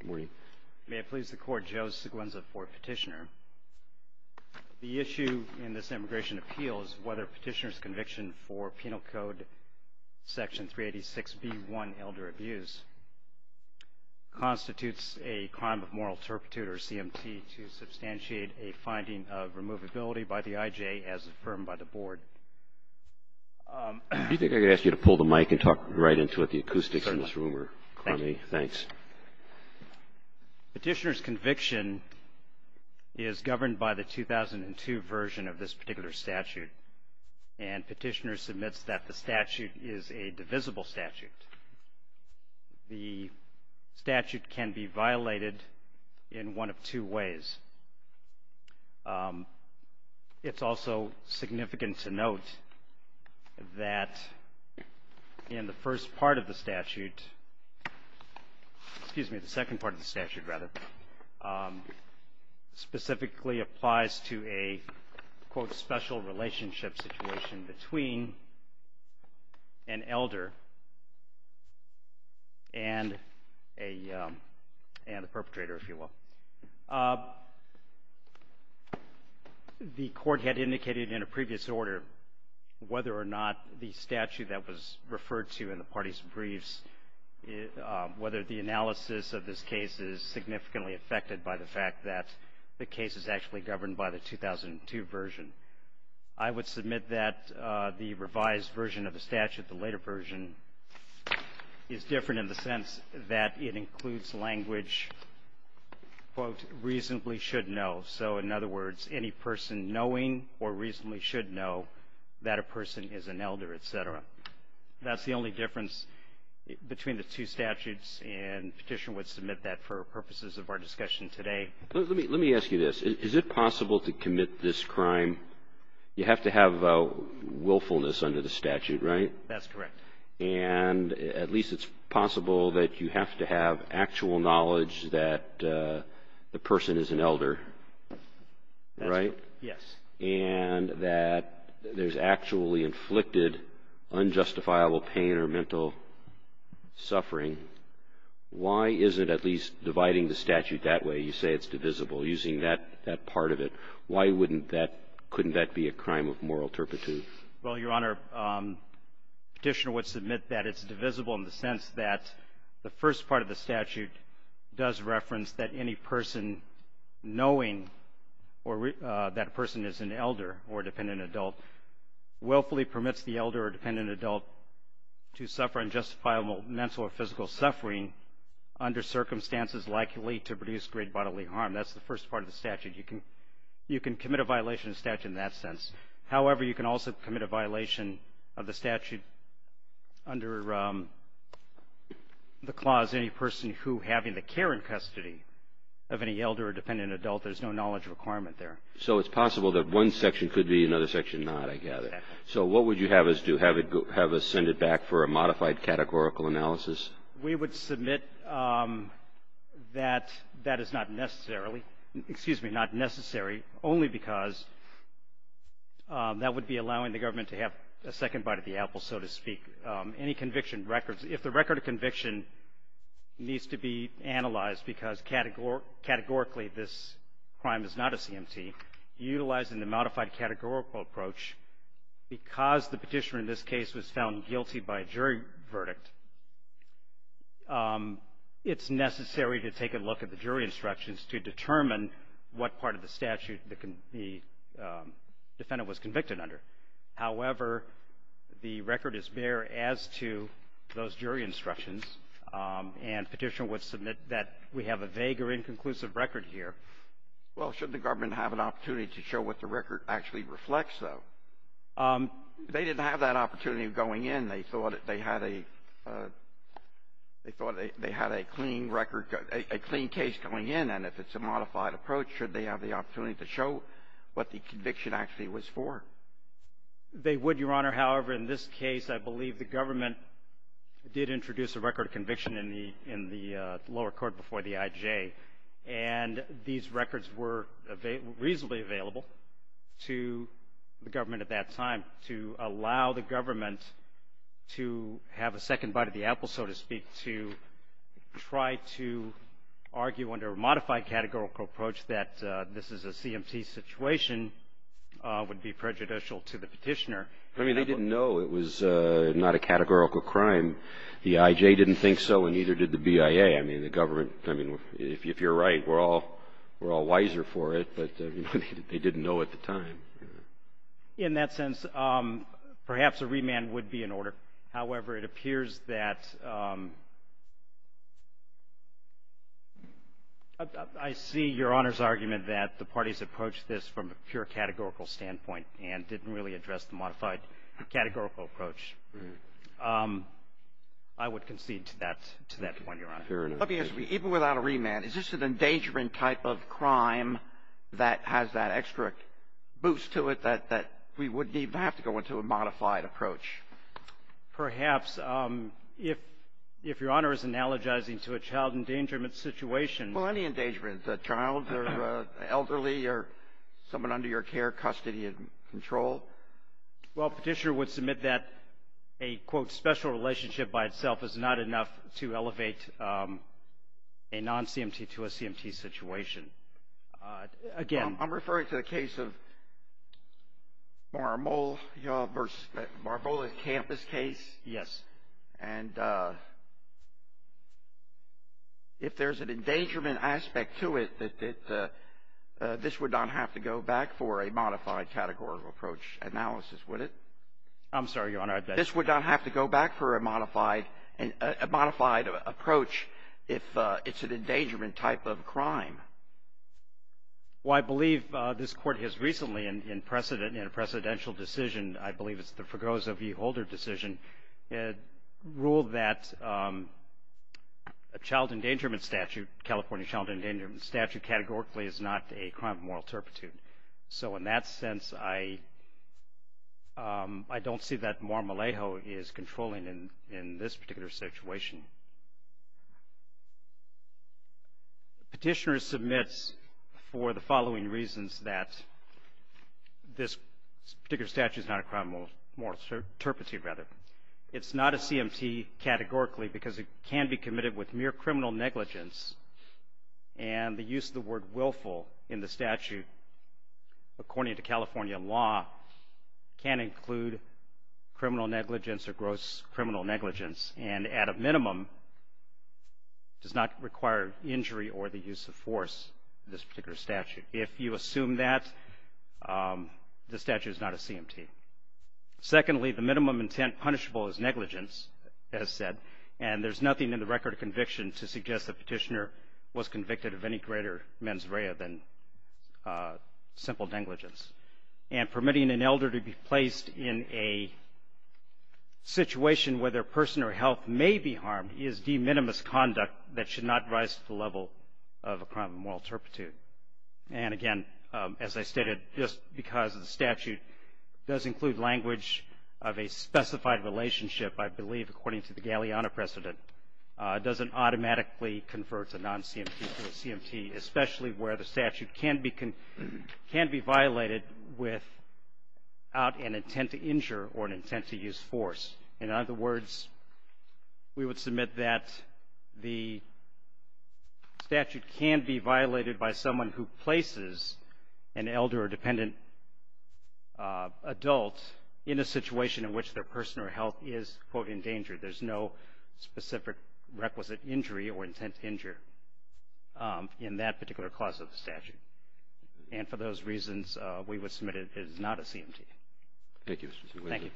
Good morning. May it please the court, Joe Seguenza for petitioner. The issue in this immigration appeal is whether petitioner's conviction for Penal Code Section 386B1 Elder Abuse constitutes a crime of moral turpitude or CMT to substantiate a finding of removability by the IJ as affirmed by the board. Do you think I could ask you to pull the mic and talk right into it, the acoustics in this room are crummy. Thanks. Petitioner's conviction is governed by the 2002 version of this particular statute and petitioner submits that the statute is a divisible statute. The statute can be violated in one of two ways. It's also significant to note that in the first part of the statute, excuse me, the second part of the statute rather, specifically applies to a, quote, special relationship situation between an whether or not the statute that was referred to in the party's briefs, whether the analysis of this case is significantly affected by the fact that the case is actually governed by the 2002 version. I would submit that the revised version of the statute, the later version, is different in the sense that it includes language, quote, reasonably should know. So, in other words, any person knowing or reasonably should know that a person is an elder, et cetera. That's the only difference between the two statutes and petitioner would submit that for purposes of our discussion today. Let me ask you this. Is it possible to commit this crime, you have to have willfulness under the statute, right? That's correct. And at least it's possible that you have to have actual knowledge that the person is an elder, right? Yes. And that there's actually inflicted unjustifiable pain or mental suffering. Why isn't at least dividing the statute that way, you say it's divisible, using that part of it, why wouldn't that, couldn't that be a crime of moral turpitude? Well, Your Honor, petitioner would submit that it's divisible in the sense that the first part of the statute does reference that any person knowing that a person is an elder or dependent adult willfully permits the elder or dependent adult to suffer unjustifiable mental or physical suffering under circumstances likely to produce great bodily harm. That's the first part of the statute. You can commit a violation of the statute in that sense. However, you can also commit a violation of the statute under the clause any person who having the care and custody of any elder or dependent adult, there's no knowledge requirement there. So it's possible that one section could be, another section not, I gather. So what would you have us do, have us send it back for a modified categorical analysis? We would submit that that is not to have a second bite of the apple, so to speak. Any conviction records, if the record of conviction needs to be analyzed because categorically this crime is not a CMT, utilizing the modified categorical approach, because the petitioner in this case was found guilty by a jury verdict, it's necessary to take a look at the jury instructions to determine what part of the statute the defendant was convicted under. However, the record is bare as to those jury instructions, and petitioner would submit that we have a vague or inconclusive record here. Well, shouldn't the government have an opportunity to show what the record actually reflects, though? They didn't have that opportunity of going in. They thought they had a clean record, a clean case going in, and if it's a modified approach, should they have the opportunity to show what the conviction actually was for? They would, Your Honor. However, in this case, I believe the government did introduce a record of conviction in the lower court before the IJ, and these records were reasonably available to the government at that time to allow the government to have a second bite of the apple, so to speak, to try to argue under a modified categorical approach that this is a CMT situation would be prejudicial to the petitioner. I mean, they didn't know it was not a categorical crime. The IJ didn't think so, and neither did the BIA. I mean, the government, I mean, if you're right, we're all wiser for it, but they didn't know at the time. In that sense, perhaps a remand would be in order. However, it appears that I see Your Honor's argument that the parties approached this from a pure categorical standpoint and didn't really address the modified categorical approach. I would concede to that point, Your Honor. Let me ask you, even without a remand, is this an endangerment type of crime that has that extra boost to it that we wouldn't even have to go into a modified approach? Perhaps. If Your Honor is analogizing to a child endangerment situation — Well, any endangerment, a child or an elderly or someone under your care, custody and control. Well, a petitioner would submit that a, quote, special relationship by itself is not enough to elevate a non-CMT to a CMT situation. Again — I'm referring to the case of Marmol versus Marmolet Campus case. Yes. And if there's an endangerment aspect to it, this would not have to go back for a modified categorical approach analysis, would it? I'm sorry, Your Honor, I — This would not have to go back for a modified approach if it's an endangerment type of crime. Well, I believe this Court has recently, in a precedential decision, I believe it's the Fregoso v. Holder decision, ruled that a child endangerment statute, California child endangerment statute, categorically is not a crime of moral turpitude. So in that sense, I don't see that Marmolejo is controlling in this particular situation. The petitioner submits for the following reasons that this particular statute is not a crime of moral turpitude, rather. It's not a CMT categorically because it can be committed with mere criminal negligence, and the use of the word willful in the statute, according to California law, can include criminal negligence or gross criminal negligence. And at a minimum, it does not require injury or the use of force in this particular statute. If you assume that, the statute is not a CMT. Secondly, the minimum intent punishable is negligence, as said, and there's nothing in the record of conviction to suggest the petitioner was convicted of any greater mens rea than simple negligence. And permitting an elder to be placed in a situation where their personal health may be harmed is de minimis conduct that should not rise to the level of a crime of moral turpitude. And again, as I stated, just because the statute does include language of a specified relationship, I believe, according to the Galeano precedent, doesn't automatically convert a non-CMT to a CMT, especially where the statute can be violated without an intent to injure or an intent to use force. In other words, we would submit that the statute can be violated by someone who places an elder or dependent adult in a situation in which their personal health is, quote, endangered. There's no specific requisite injury or intent to injure in that particular clause of the statute. And for those reasons, we would submit it as not a CMT. Thank you, Mr. Chairman. Thank you.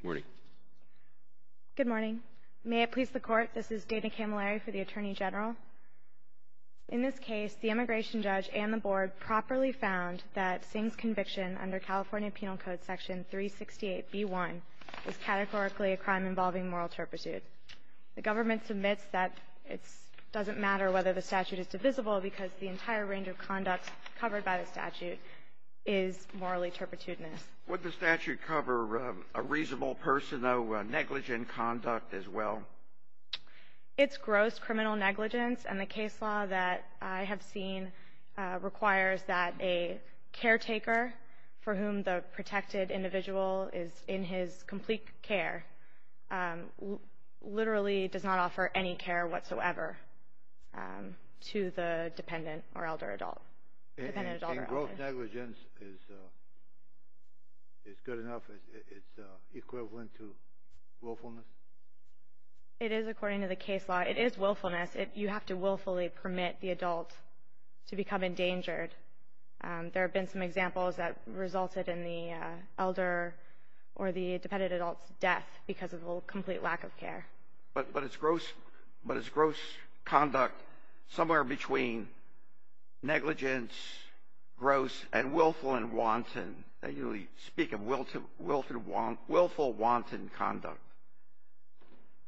Good morning. Good morning. May it please the Court, this is Dana Camilleri for the Attorney General. In this case, the immigration judge and the Board properly found that Singh's conviction under California Penal Code Section 368b1 is categorically a crime involving moral turpitude. The government submits that it doesn't matter whether the statute is divisible because the entire range of conduct covered by the statute is morally turpitudinous. Would the statute cover a reasonable person, though, negligent conduct as well? It's gross criminal negligence, and the case law that I have seen requires that a caretaker for whom the protected individual is in his complete care literally does not offer any care whatsoever to the dependent or elder adult. And gross negligence is good enough? It's equivalent to willfulness? It is, according to the case law. It is willfulness. You have to willfully permit the adult to elder or the dependent adult's death because of a complete lack of care. But is gross conduct somewhere between negligence, gross, and willful and wanton? They usually speak of willful, wanton conduct.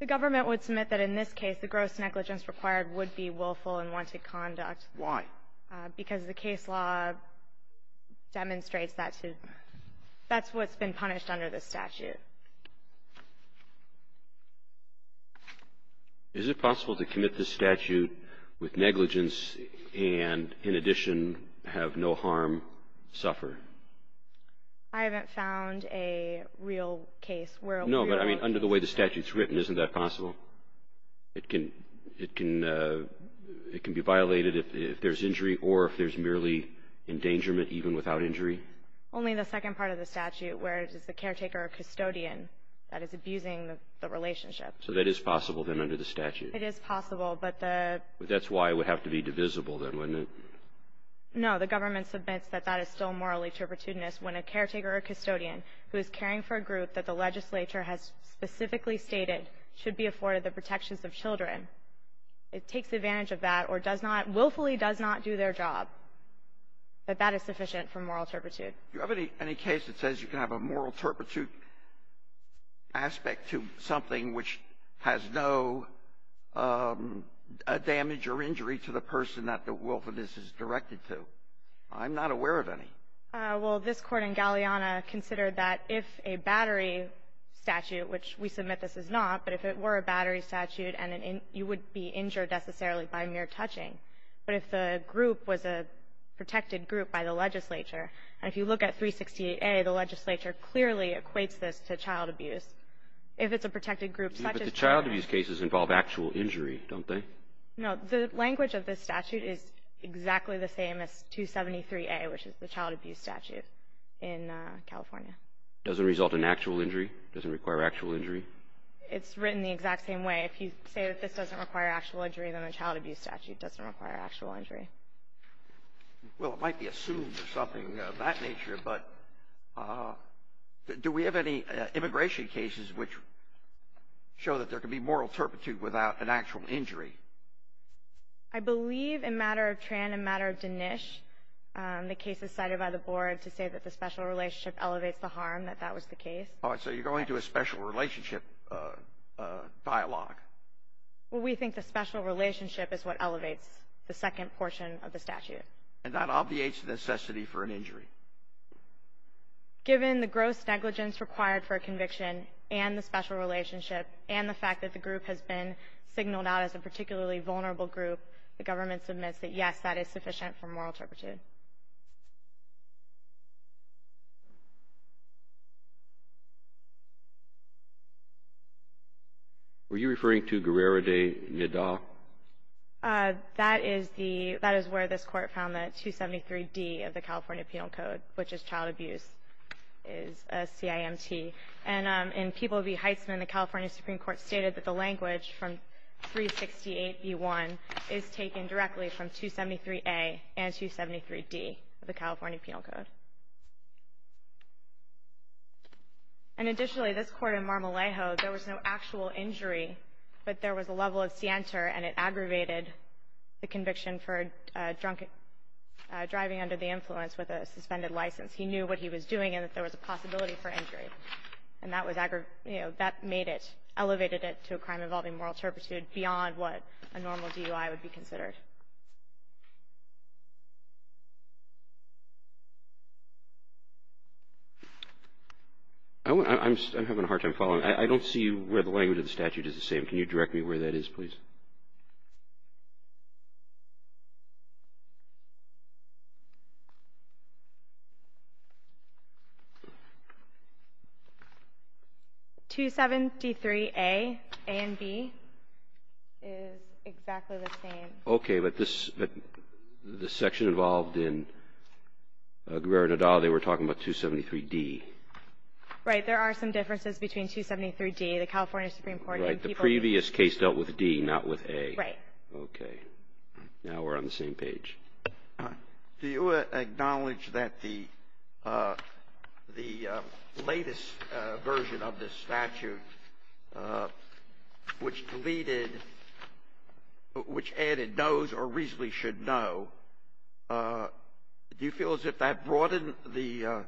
The government would submit that in this case, the gross negligence required would be willful and wanton conduct. Why? Because the case law demonstrates that to you. That's what's been punished under this statute. Is it possible to commit this statute with negligence and, in addition, have no harm suffer? I haven't found a real case where a real case is committed. No, but, I mean, under the way the statute's written, isn't that possible? It can be violated if there's injury or if there's merely endangerment, even without injury? Only in the second part of the statute, where it is the caretaker or custodian that is abusing the relationship. So that is possible, then, under the statute? It is possible, but the... But that's why it would have to be divisible, then, wouldn't it? No, the government submits that that is still moral interpretedness when a caretaker or custodian who is caring for a group that the legislature has specifically stated should be afforded the protections of children. It takes advantage of that or does not, willfully does not do their job. But that is sufficient for moral turpitude. Do you have any case that says you can have a moral turpitude aspect to something which has no damage or injury to the person that the willfulness is directed to? I'm not aware of any. Well, this Court in Galeana considered that if a battery statute, which we submit this is not, but if it were a battery statute, you would be injured, necessarily, by mere touching. But if the group was a protected group by the legislature, and if you look at 368A, the legislature clearly equates this to child abuse. If it's a protected group such as... But the child abuse cases involve actual injury, don't they? No, the language of this statute is exactly the same as 273A, which is the child abuse statute in California. Doesn't result in actual injury? Doesn't require actual injury? It's written the exact same way. If you say that this doesn't require actual injury, then the child abuse statute doesn't require actual injury. Well, it might be assumed or something of that nature, but do we have any immigration cases which show that there can be moral turpitude without an actual injury? I believe in matter of Tran and matter of Dinesh, the case is cited by the board to say that the special relationship elevates the harm, that that was the case. All right. So you're going to a special relationship dialogue. Well, we think the special relationship is what elevates the second portion of the statute. And that obviates the necessity for an injury. Given the gross negligence required for a conviction and the special relationship and the fact that the group has been signaled out as a particularly vulnerable group, the government submits that, yes, that is sufficient for moral turpitude. Were you referring to Guerrero de Nida? That is the — that is where this Court found the 273D of the California Penal Code, which is child abuse, is a CIMT. And in People v. Heisman, the California Supreme Court stated that the language from 368B1 is taken directly from 273A and 273D of the California Penal Code. And additionally, this Court in Mar-a-Lago, there was no actual injury, but there was a level of scienter and it aggravated the conviction for a drunk driving under the influence with a suspended license. He knew what he was doing and that there was a possibility for injury. And that was — you know, that made it — elevated it to a crime involving moral turpitude beyond what a normal DUI would be considered. I'm having a hard time following. I don't see where the language of the statute is the same. And can you direct me where that is, please? 273A and B is exactly the same. Okay. But this — the section involved in Guerrero de Nida, they were talking about 273D. Right. There are some differences between 273D, the California Supreme Court, and people — Right. The previous case dealt with D, not with A. Right. Okay. Now we're on the same page. Do you acknowledge that the latest version of this statute, which deleted — which added knows or reasonably should know, do you feel as if that broadened the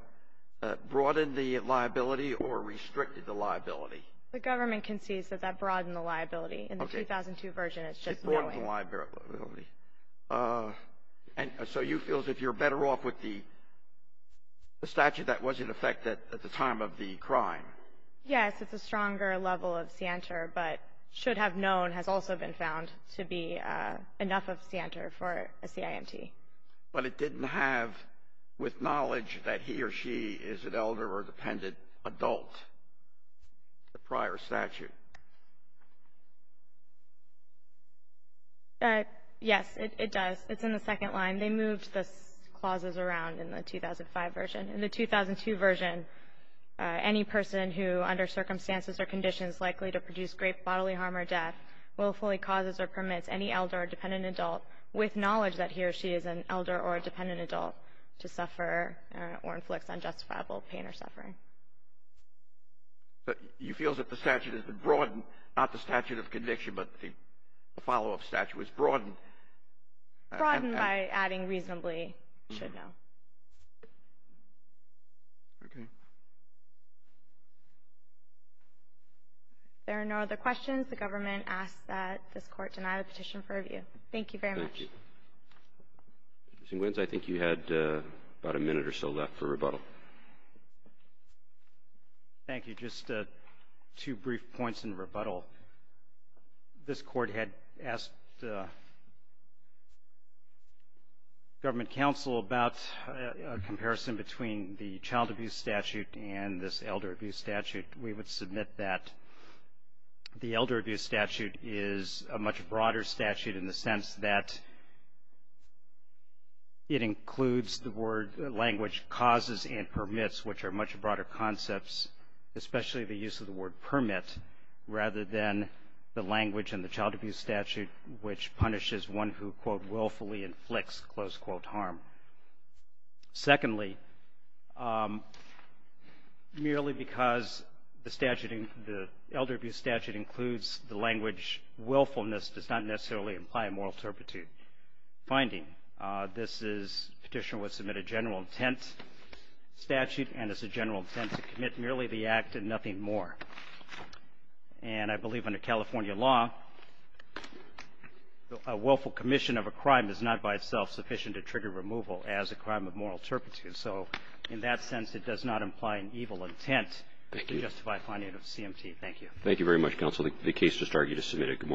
liability or restricted the liability? The government concedes that that broadened the liability. Okay. In the 2002 version, it's just knowing. It broadened the liability. And so you feel as if you're better off with the statute that was in effect at the time of the crime? Yes. It's a stronger level of SIANTR, but should have known has also been found to be enough of SIANTR for a CIMT. But it didn't have, with knowledge that he or she is an elder or dependent adult, the prior statute. Yes, it does. It's in the second line. They moved the clauses around in the 2005 version. In the 2002 version, any person who, under circumstances or conditions likely to produce great bodily harm or death, willfully causes or permits any elder or dependent adult, with knowledge that he or she is an elder or dependent adult, to suffer or inflict unjustifiable pain or suffering. But you feel as if the statute has been broadened, not the statute of conviction, but the follow-up statute was broadened. Broadened by adding reasonably should know. Okay. There are no other questions. The government asks that this court deny the petition for review. Thank you very much. Thank you. Mr. Nguyen, I think you had about a minute or so left for rebuttal. Thank you. Just two brief points in rebuttal. This court had asked government counsel about a comparison between the child abuse statute and this elder abuse statute. We would submit that the elder abuse statute is a much broader statute in the sense that it includes the word language causes and permits, which are much broader concepts, especially the use of the word permit, rather than the language in the child abuse statute, which punishes one who, quote, willfully inflicts, close quote, harm. Secondly, merely because the elder abuse statute includes the language willfulness does not necessarily imply a moral turpitude finding. This petition was submitted general intent statute, and it's a general intent to commit merely the act and nothing more. And I believe under California law, a willful commission of a crime is not by itself sufficient to trigger removal as a crime of moral turpitude. So in that sense, it does not imply an evil intent to justify finding of CMT. Thank you. Thank you very much, counsel. The case just argued is submitted. Good morning.